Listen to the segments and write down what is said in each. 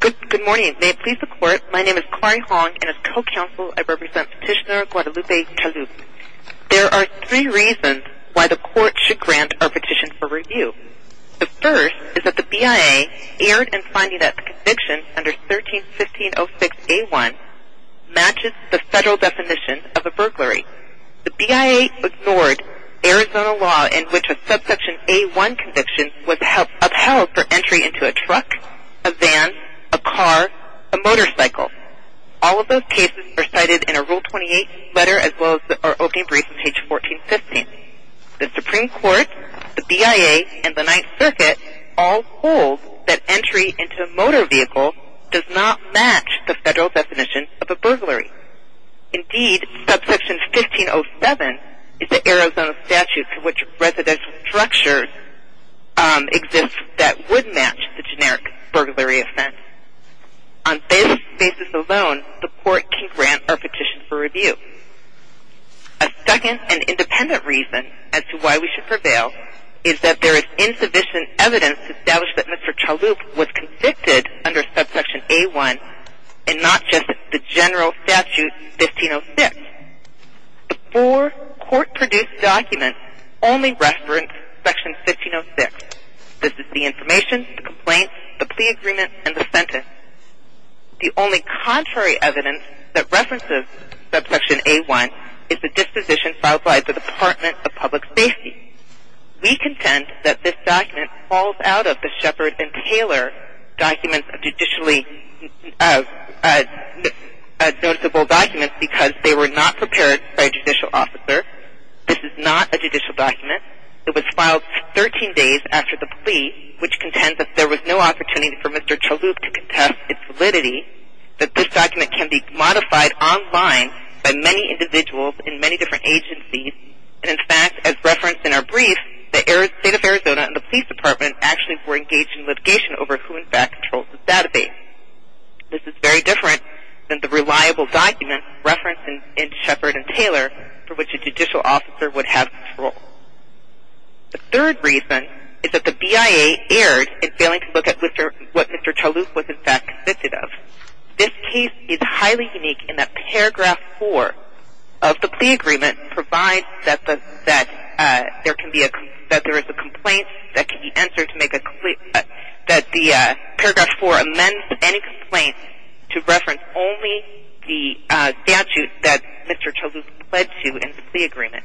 Good morning. May it please the court, my name is Kari Hong and as co-counsel I represent Petitioner Guadalupe Chalup. There are three reasons why the court should grant our petition for review. The first is that the BIA erred in finding that the conviction under 13-1506-A1 matches the federal definition of a burglary. The BIA ignored Arizona law in which a subsection A1 conviction was upheld for entry into a truck, a van, a car, a motorcycle. All of those cases are cited in a Rule 28 letter as well as our opening brief on page 1415. The Supreme Court, the BIA, and the Ninth Circuit all hold that entry into a motor vehicle does not match the federal definition of a burglary. Indeed, subsection 1507 is the Arizona statute in which residential structures exist that would match the generic burglary offense. On this basis alone, the court can grant our petition for review. A second and independent reason as to why we should prevail is that there is insufficient evidence to establish that Mr. Chalup was convicted under subsection A1 and not just the general statute 1506. The four court-produced documents only reference section 1506. This is the information, the complaint, the plea agreement, and the sentence. The only contrary evidence that references subsection A1 is the disposition filed by the Department of Public Safety. We contend that this document falls out of the Shepard and Taylor documents as noticeable documents because they were not prepared by a judicial officer. This is not a judicial document. It was filed 13 days after the plea, which contends that there was no opportunity for Mr. Chalup to contest its validity, that this document can be modified online by many individuals in many different agencies, and in fact, as referenced in our brief, the state of Arizona and the police department actually were engaged in litigation over who in fact controls the database. This is very different than the reliable document referenced in Shepard and Taylor for which a judicial officer would have control. The third reason is that the BIA erred in failing to look at what Mr. Chalup was in fact convicted of. This case is highly unique in that Paragraph 4 of the plea agreement provides that there is a complaint that can be answered to make a plea, that the Paragraph 4 amends any complaint to reference only the statute that Mr. Chalup pledged to in the plea agreement.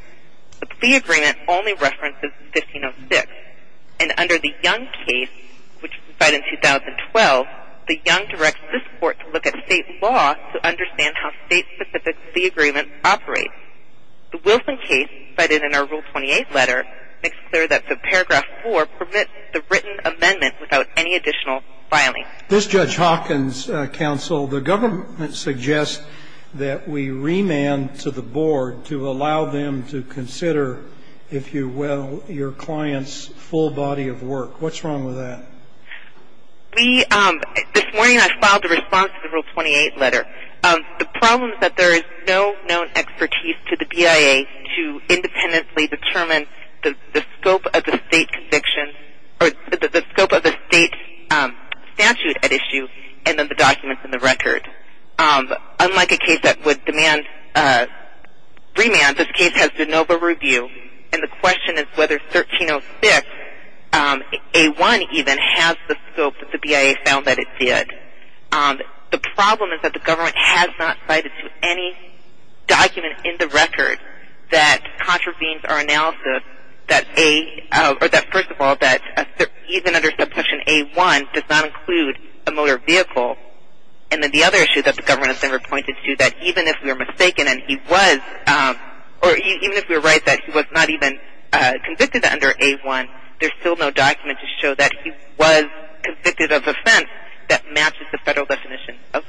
The plea agreement only references 1506, and under the Young case, which was cited in 2012, the Young directs this court to look at state law to understand how state-specific plea agreements operate. The Wilson case, cited in our Rule 28 letter, makes clear that the Paragraph 4 permits the written amendment without any additional filing. This Judge Hawkins, Counsel, the government suggests that we remand to the board to allow them to consider, if you will, your client's full body of work. What's wrong with that? This morning I filed a response to the Rule 28 letter. The problem is that there is no known expertise to the BIA to independently determine the scope of the state conviction or the scope of the state statute at issue and then the documents in the record. Unlike a case that would demand remand, this case has de novo review, and the question is whether 1306, A1 even, has the scope that the BIA found that it did. The problem is that the government has not cited to any document in the record that contravenes our analysis or that, first of all, that even under Subsection A1 does not include a motor vehicle. And then the other issue that the government has never pointed to, that even if we are mistaken and he was, or even if we were right that he was not even convicted under A1, there's still no document to show that he was convicted of offense that matches the federal definition of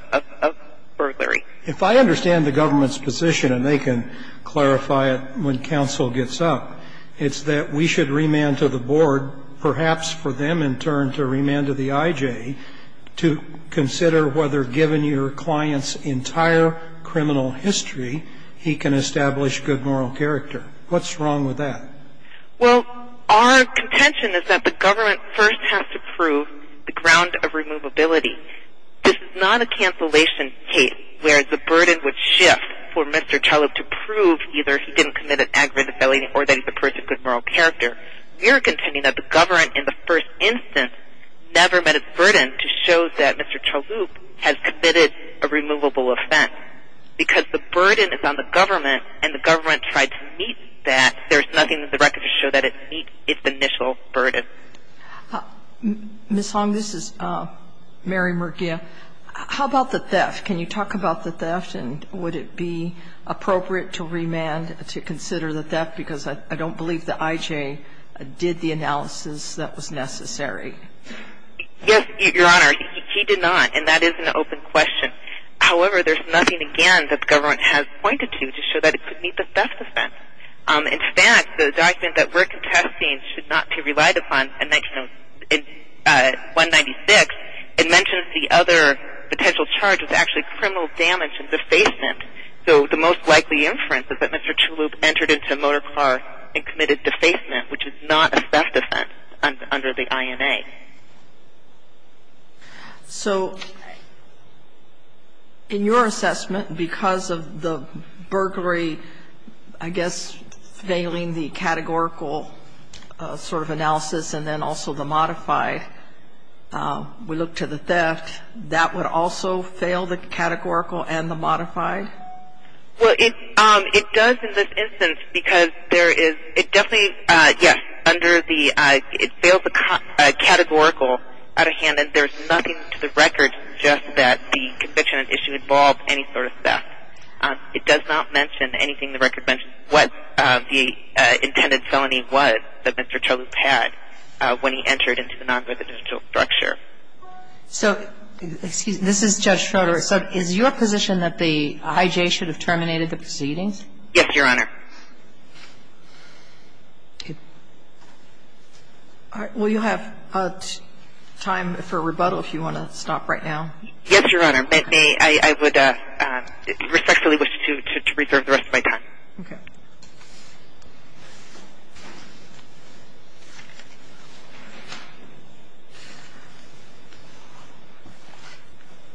burglary. If I understand the government's position, and they can clarify it when counsel gets up, it's that we should remand to the board, perhaps for them in turn to remand to the IJ, to consider whether, given your client's entire criminal history, he can establish good moral character. What's wrong with that? Well, our contention is that the government first has to prove the ground of removability. This is not a cancellation case where the burden would shift for Mr. Chalup to prove either he didn't commit an aggravated felony or that he's a person of good moral character. We are contending that the government, in the first instance, never met its burden to show that Mr. Chalup has committed a removable offense. Because the burden is on the government and the government tried to meet that, there's nothing in the record to show that it meets its initial burden. Ms. Long, this is Mary Murguia. How about the theft? Can you talk about the theft, and would it be appropriate to remand to consider the theft? Because I don't believe the IJ did the analysis that was necessary. Yes, Your Honor, he did not, and that is an open question. However, there's nothing again that the government has pointed to to show that it could meet the theft offense. In fact, the document that we're contesting should not be relied upon in 196. It mentions the other potential charge was actually criminal damage and defacement. So the most likely inference is that Mr. Chalup entered into a motor car and committed defacement, which is not a theft offense under the INA. So in your assessment, because of the burglary, I guess, failing the categorical sort of analysis and then also the modified, we look to the theft, that would also fail the categorical and the modified? Well, it does in this instance because there is – it definitely, yes, under the – it fails the categorical out of hand, and there's nothing to the record just that the conviction and issue involved any sort of theft. It does not mention anything in the record that mentions what the intended felony was that Mr. Chalup had when he entered into the non-residential structure. So, excuse me, this is Judge Schroeder. So is your position that the IJ should have terminated the proceedings? Yes, Your Honor. All right. Will you have time for rebuttal if you want to stop right now? Yes, Your Honor. May I would respectfully wish to reserve the rest of my time. Okay.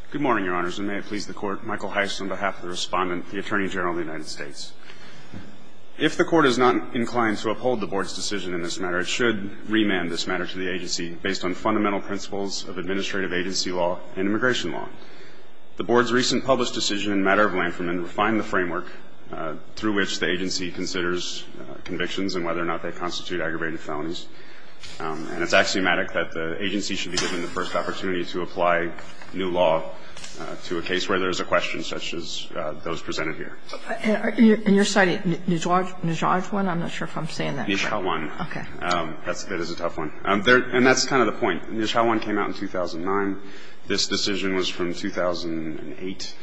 Good morning, Your Honors, and may it please the Court, Michael Heist on behalf of the Respondent, the Attorney General of the United States. If the Court is not inclined to uphold the Board's decision in this matter, it should remand this matter to the agency based on fundamental principles of administrative agency law and immigration law. The Board's recent published decision in matter of Lanferman refined the framework through which the agency considers convictions and whether or not they constitute aggravated felonies. And it's axiomatic that the agency should be given the first opportunity to apply new law to a case where there's a question such as those presented here. And you're citing Nijhawan? I'm not sure if I'm saying that right. Nijhawan. Okay. That is a tough one. And that's kind of the point. Nijhawan came out in 2009. This decision was from 2008.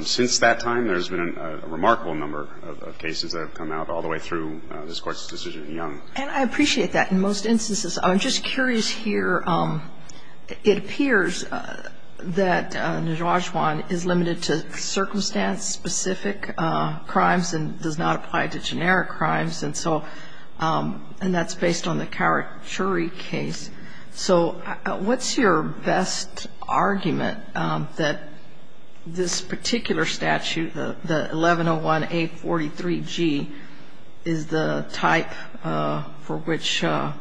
Since that time, there's been a remarkable number of cases that have come out all the way through this Court's decision in Young. And I appreciate that. In most instances, I'm just curious here, it appears that Nijhawan is limited to circumstance-specific crimes and does not apply to generic crimes. And so, and that's based on the Carachuri case. So what's your best argument that this particular statute, the 1101A43G, is the type for which the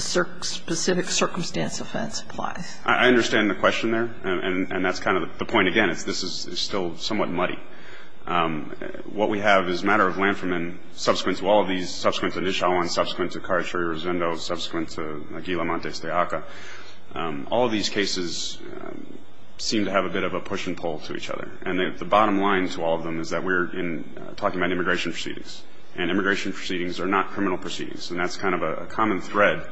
specific circumstance offense applies? I understand the question there. And that's kind of the point. Again, this is still somewhat muddy. What we have is a matter of Lantherman, subsequent to all of these, subsequent to Nijhawan, subsequent to Carachuri-Rosendo, subsequent to Aguila-Montes de Aca. All of these cases seem to have a bit of a push and pull to each other. And the bottom line to all of them is that we're talking about immigration proceedings. And immigration proceedings are not criminal proceedings. And that's kind of a common thread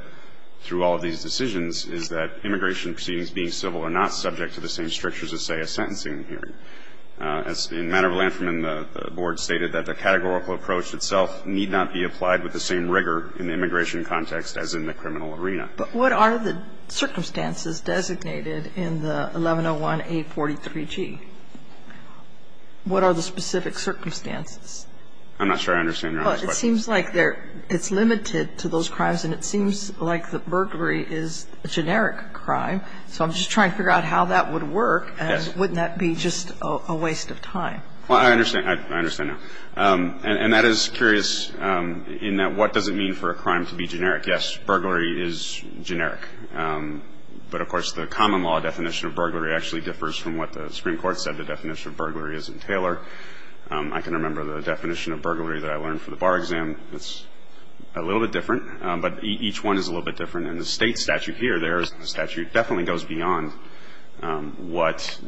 through all of these decisions is that immigration proceedings being civil are not subject to the same strictures as, say, a sentencing hearing. As in a matter of Lantherman, the Board stated that the categorical approach itself need not be applied with the same rigor in the immigration context as in the criminal arena. But what are the circumstances designated in the 1101A43G? What are the specific circumstances? I'm not sure I understand Your Honor's question. Well, it seems like they're, it's limited to those crimes, and it seems like the burglary is a generic crime. So I'm just trying to figure out how that would work. And wouldn't that be just a waste of time? Well, I understand. I understand now. And that is curious in that what does it mean for a crime to be generic? Yes, burglary is generic. But, of course, the common law definition of burglary actually differs from what the Supreme Court said the definition of burglary is in Taylor. I can remember the definition of burglary that I learned for the bar exam. It's a little bit different. But each one is a little bit different. In the State statute here, the statute definitely goes beyond what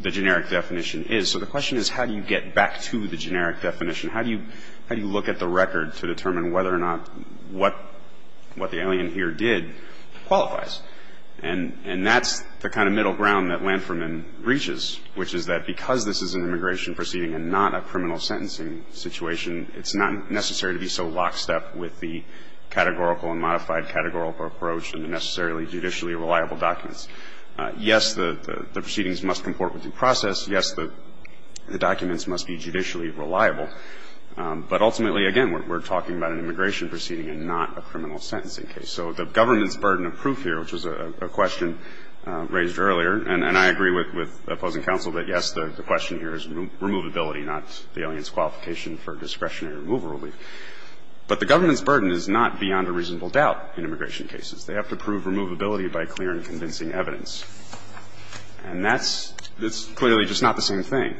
the generic definition is. So the question is how do you get back to the generic definition? How do you look at the record to determine whether or not what the alien here did qualifies? And that's the kind of middle ground that Lanferman reaches, which is that because this is an immigration proceeding and not a criminal sentencing situation, it's not necessary to be so lockstep with the categorical and modified categorical approach and the necessarily judicially reliable documents. Yes, the proceedings must comport with due process. Yes, the documents must be judicially reliable. But ultimately, again, we're talking about an immigration proceeding and not a criminal sentencing case. So the government's burden of proof here, which was a question raised earlier, and I agree with the opposing counsel that, yes, the question here is removability, not the alien's qualification for discretionary removal relief. But the government's burden is not beyond a reasonable doubt in immigration cases. They have to prove removability by clear and convincing evidence. And that's clearly just not the same thing.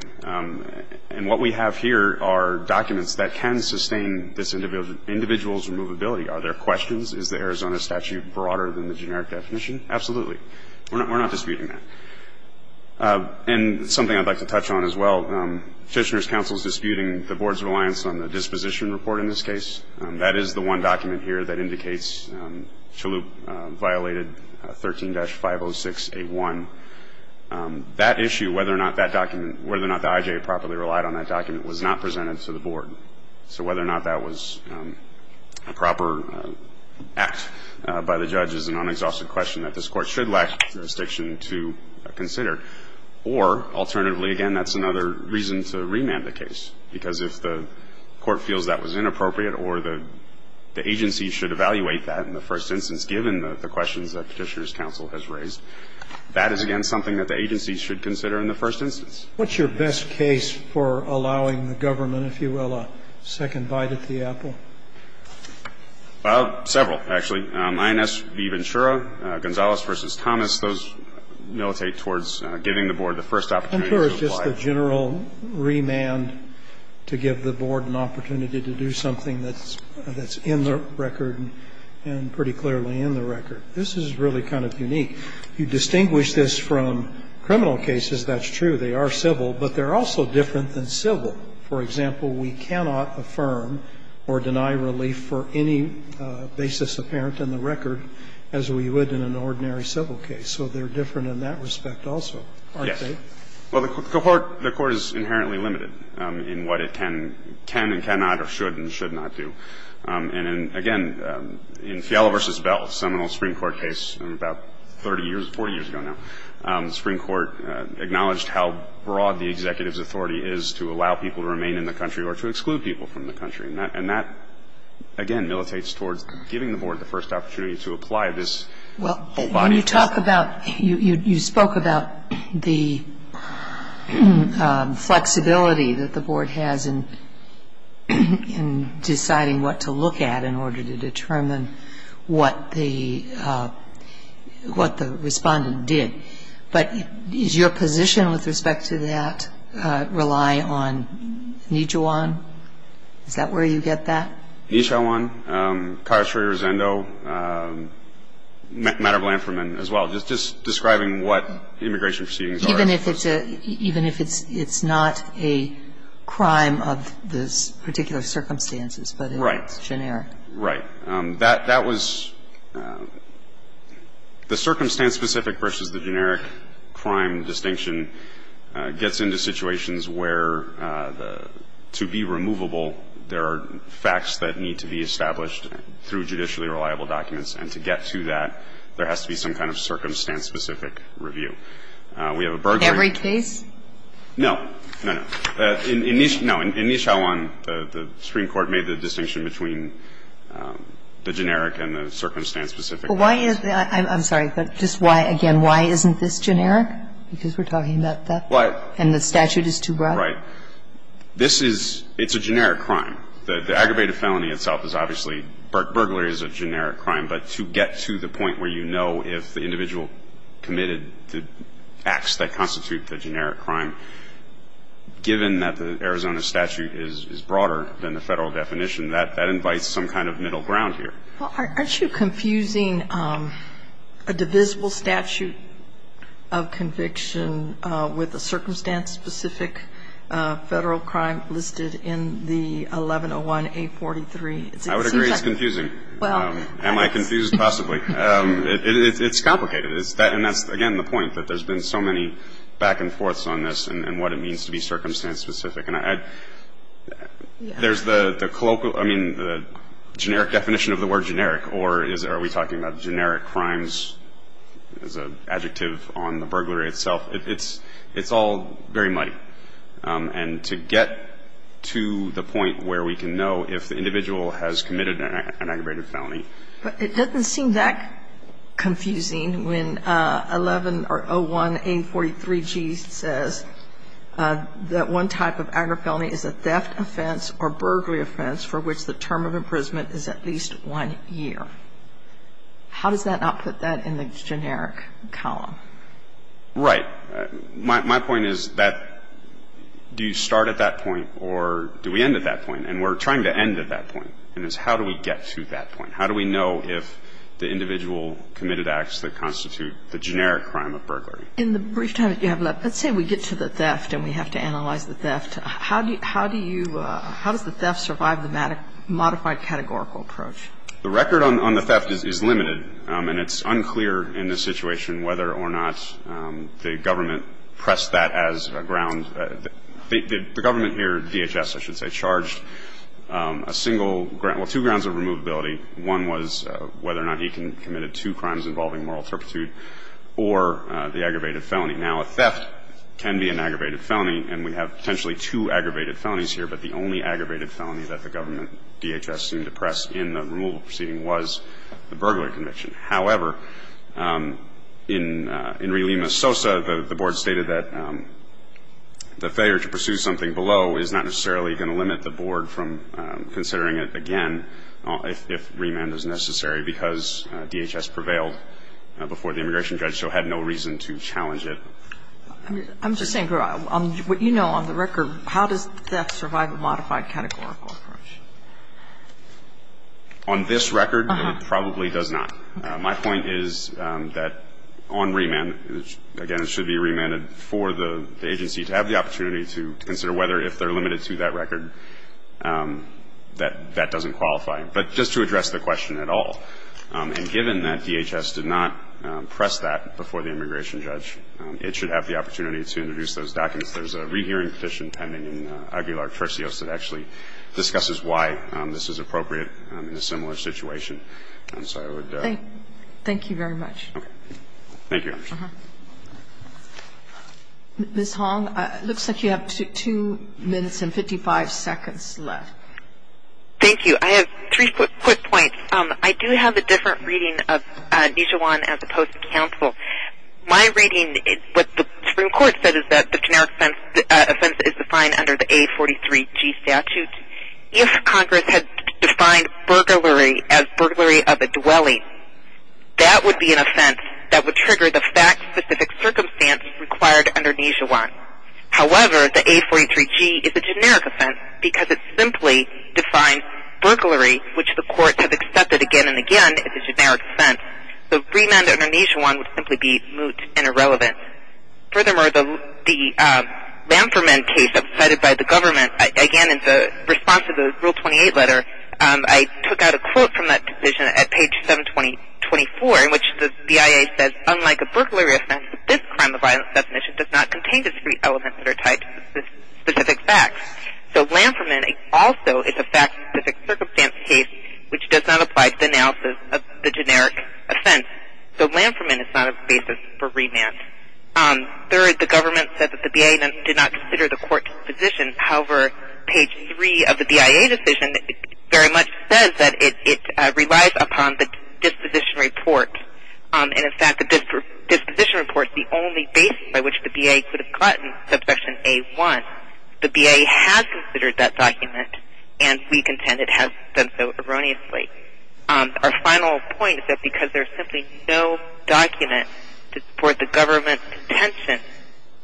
And what we have here are documents that can sustain this individual's removability. Are there questions? Is the Arizona statute broader than the generic definition? Absolutely. We're not disputing that. And something I'd like to touch on as well, Fishner's counsel is disputing the board's reliance on the disposition report in this case. That is the one document here that indicates Chaloup violated 13-506A1. That issue, whether or not that document, whether or not the I.J. properly relied on that document was not presented to the board. So whether or not that was a proper act by the judge is an unexhausted question that this Court should lack jurisdiction to consider. Or alternatively, again, that's another reason to remand the case, because if the Court feels that was inappropriate or the agency should evaluate that in the first instance given the questions that Petitioner's counsel has raised, that is, again, something that the agency should consider in the first instance. What's your best case for allowing the government, if you will, a second bite at the apple? Well, several, actually. INS v. Ventura, Gonzalez v. Thomas, those militate towards giving the board the first opportunity to apply. Ventura is just the general remand to give the board an opportunity to do something that's in the record and pretty clearly in the record. This is really kind of unique. You distinguish this from criminal cases. That's true. They are civil, but they're also different than civil. For example, we cannot affirm or deny relief for any basis apparent in the record as we would in an ordinary civil case. So they're different in that respect also, aren't they? Yes. Well, the Court is inherently limited in what it can and cannot or should and should not do. And again, in Fiala v. Bell, a seminal Supreme Court case about 30 years, 40 years ago now, the Supreme Court acknowledged how broad the executive's authority is to allow people to remain in the country or to exclude people from the country. And that, again, militates towards giving the board the first opportunity to apply this whole body of law. Well, when you talk about you spoke about the flexibility that the board has in deciding what to look at in order to determine what the respondent did. But does your position with respect to that rely on Nijiwan? Is that where you get that? Nijiwan, Kayashori Rizendo, Madam Lanferman as well, just describing what immigration proceedings are. Even if it's a – even if it's not a crime of the particular circumstances, but it's generic. Right. That was – the circumstance-specific versus the generic crime distinction gets into situations where the – to be removable, there are facts that need to be established through judicially reliable documents. And to get to that, there has to be some kind of circumstance-specific review. We have a burglary. Every case? No. No, no. In Nijiwan, the Supreme Court made the distinction between the generic and the circumstance-specific. Well, why is – I'm sorry, but just why – again, why isn't this generic? Because we're talking about that. Right. And the statute is too broad. Right. This is – it's a generic crime. The aggravated felony itself is obviously – burglary is a generic crime. But to get to the point where you know if the individual committed the acts that the individual committed the acts that the individual committed, given that the Arizona statute is broader than the Federal definition, that invites some kind of middle ground here. Well, aren't you confusing a divisible statute of conviction with a circumstance-specific Federal crime listed in the 1101A43? I would agree it's confusing. Am I confused? Possibly. It's complicated. And that's, again, the point, that there's been so many back and forths on this and what it means to be circumstance-specific. And there's the colloquial – I mean, the generic definition of the word generic, or are we talking about generic crimes as an adjective on the burglary itself? It's all very muddy. And to get to the point where we can know if the individual has committed an aggravated felony. But it doesn't seem that confusing when 1101A43G says that one type of aggravated felony is a theft offense or burglary offense for which the term of imprisonment is at least one year. How does that not put that in the generic column? Right. My point is that do you start at that point or do we end at that point? And we're trying to end at that point, and it's how do we get to that point? How do we know if the individual committed acts that constitute the generic crime of burglary? In the brief time that you have left, let's say we get to the theft and we have to analyze the theft. How do you – how does the theft survive the modified categorical approach? The record on the theft is limited, and it's unclear in this situation whether or not the government pressed that as a ground – the government here, DHS, I should say, charged a single – well, two grounds of removability. One was whether or not he committed two crimes involving moral turpitude or the aggravated felony. Now, a theft can be an aggravated felony, and we have potentially two aggravated felonies here, but the only aggravated felony that the government, DHS, seemed to press in the removable proceeding was the burglary conviction. However, in Relima Sosa, the Board stated that the failure to pursue something below is not necessarily going to limit the Board from considering it again. If remand is necessary, because DHS prevailed before the immigration judge, so had no reason to challenge it. I'm just saying, what you know on the record, how does theft survive a modified categorical approach? On this record, it probably does not. My point is that on remand, again, it should be remanded for the agency to have the opportunity to consider whether, if they're limited to that record, that that doesn't qualify, but just to address the question at all. And given that DHS did not press that before the immigration judge, it should have the opportunity to introduce those documents. There's a rehearing petition pending in Aguilar-Turcios that actually discusses why this is appropriate in a similar situation. And so I would. Thank you very much. Okay. Thank you, Your Honor. Ms. Hong, it looks like you have 2 minutes and 55 seconds left. Thank you. I have 3 quick points. I do have a different reading of Nijawan as opposed to counsel. My reading, what the Supreme Court said is that the generic offense is defined under the A43G statute. If Congress had defined burglary as burglary of a dwelling, that would be an offense that would trigger the fact-specific circumstance required under Nijawan. However, the A43G is a generic offense because it simply defines burglary, which the courts have accepted again and again as a generic offense. The remand under Nijawan would simply be moot and irrelevant. Furthermore, the Lanferman case that was cited by the government, again in response to the Rule 28 letter, I took out a quote from that decision at page 724 in which the BIA says, unlike a burglary offense, this crime of violence definition does not contain discrete elements that are tied to specific facts. So Lanferman also is a fact-specific circumstance case which does not apply to the analysis of the generic offense. So Lanferman is not a basis for remand. Third, the government said that the BIA did not consider the court disposition. However, page 3 of the BIA decision very much says that it relies upon the disposition report. And in fact, the disposition report is the only basis by which the BIA could have gotten subsection A1. The BIA has considered that document, and we contend it has done so erroneously. Our final point is that because there is simply no document to support the government's contention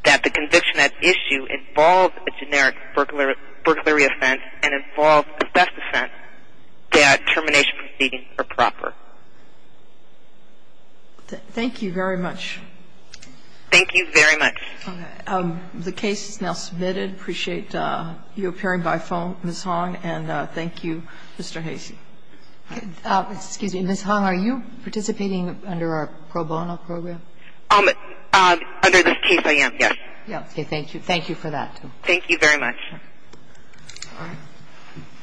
that the conviction at issue involves a generic burglary offense and involves a theft offense, that termination proceedings are proper. Thank you very much. Thank you very much. The case is now submitted. I appreciate you appearing by phone, Ms. Hong, and thank you, Mr. Hasey. Excuse me. Ms. Hong, are you participating under our pro bono program? Under this case, I am, yes. Okay. Thank you. Thank you for that, too. Thank you very much. All right.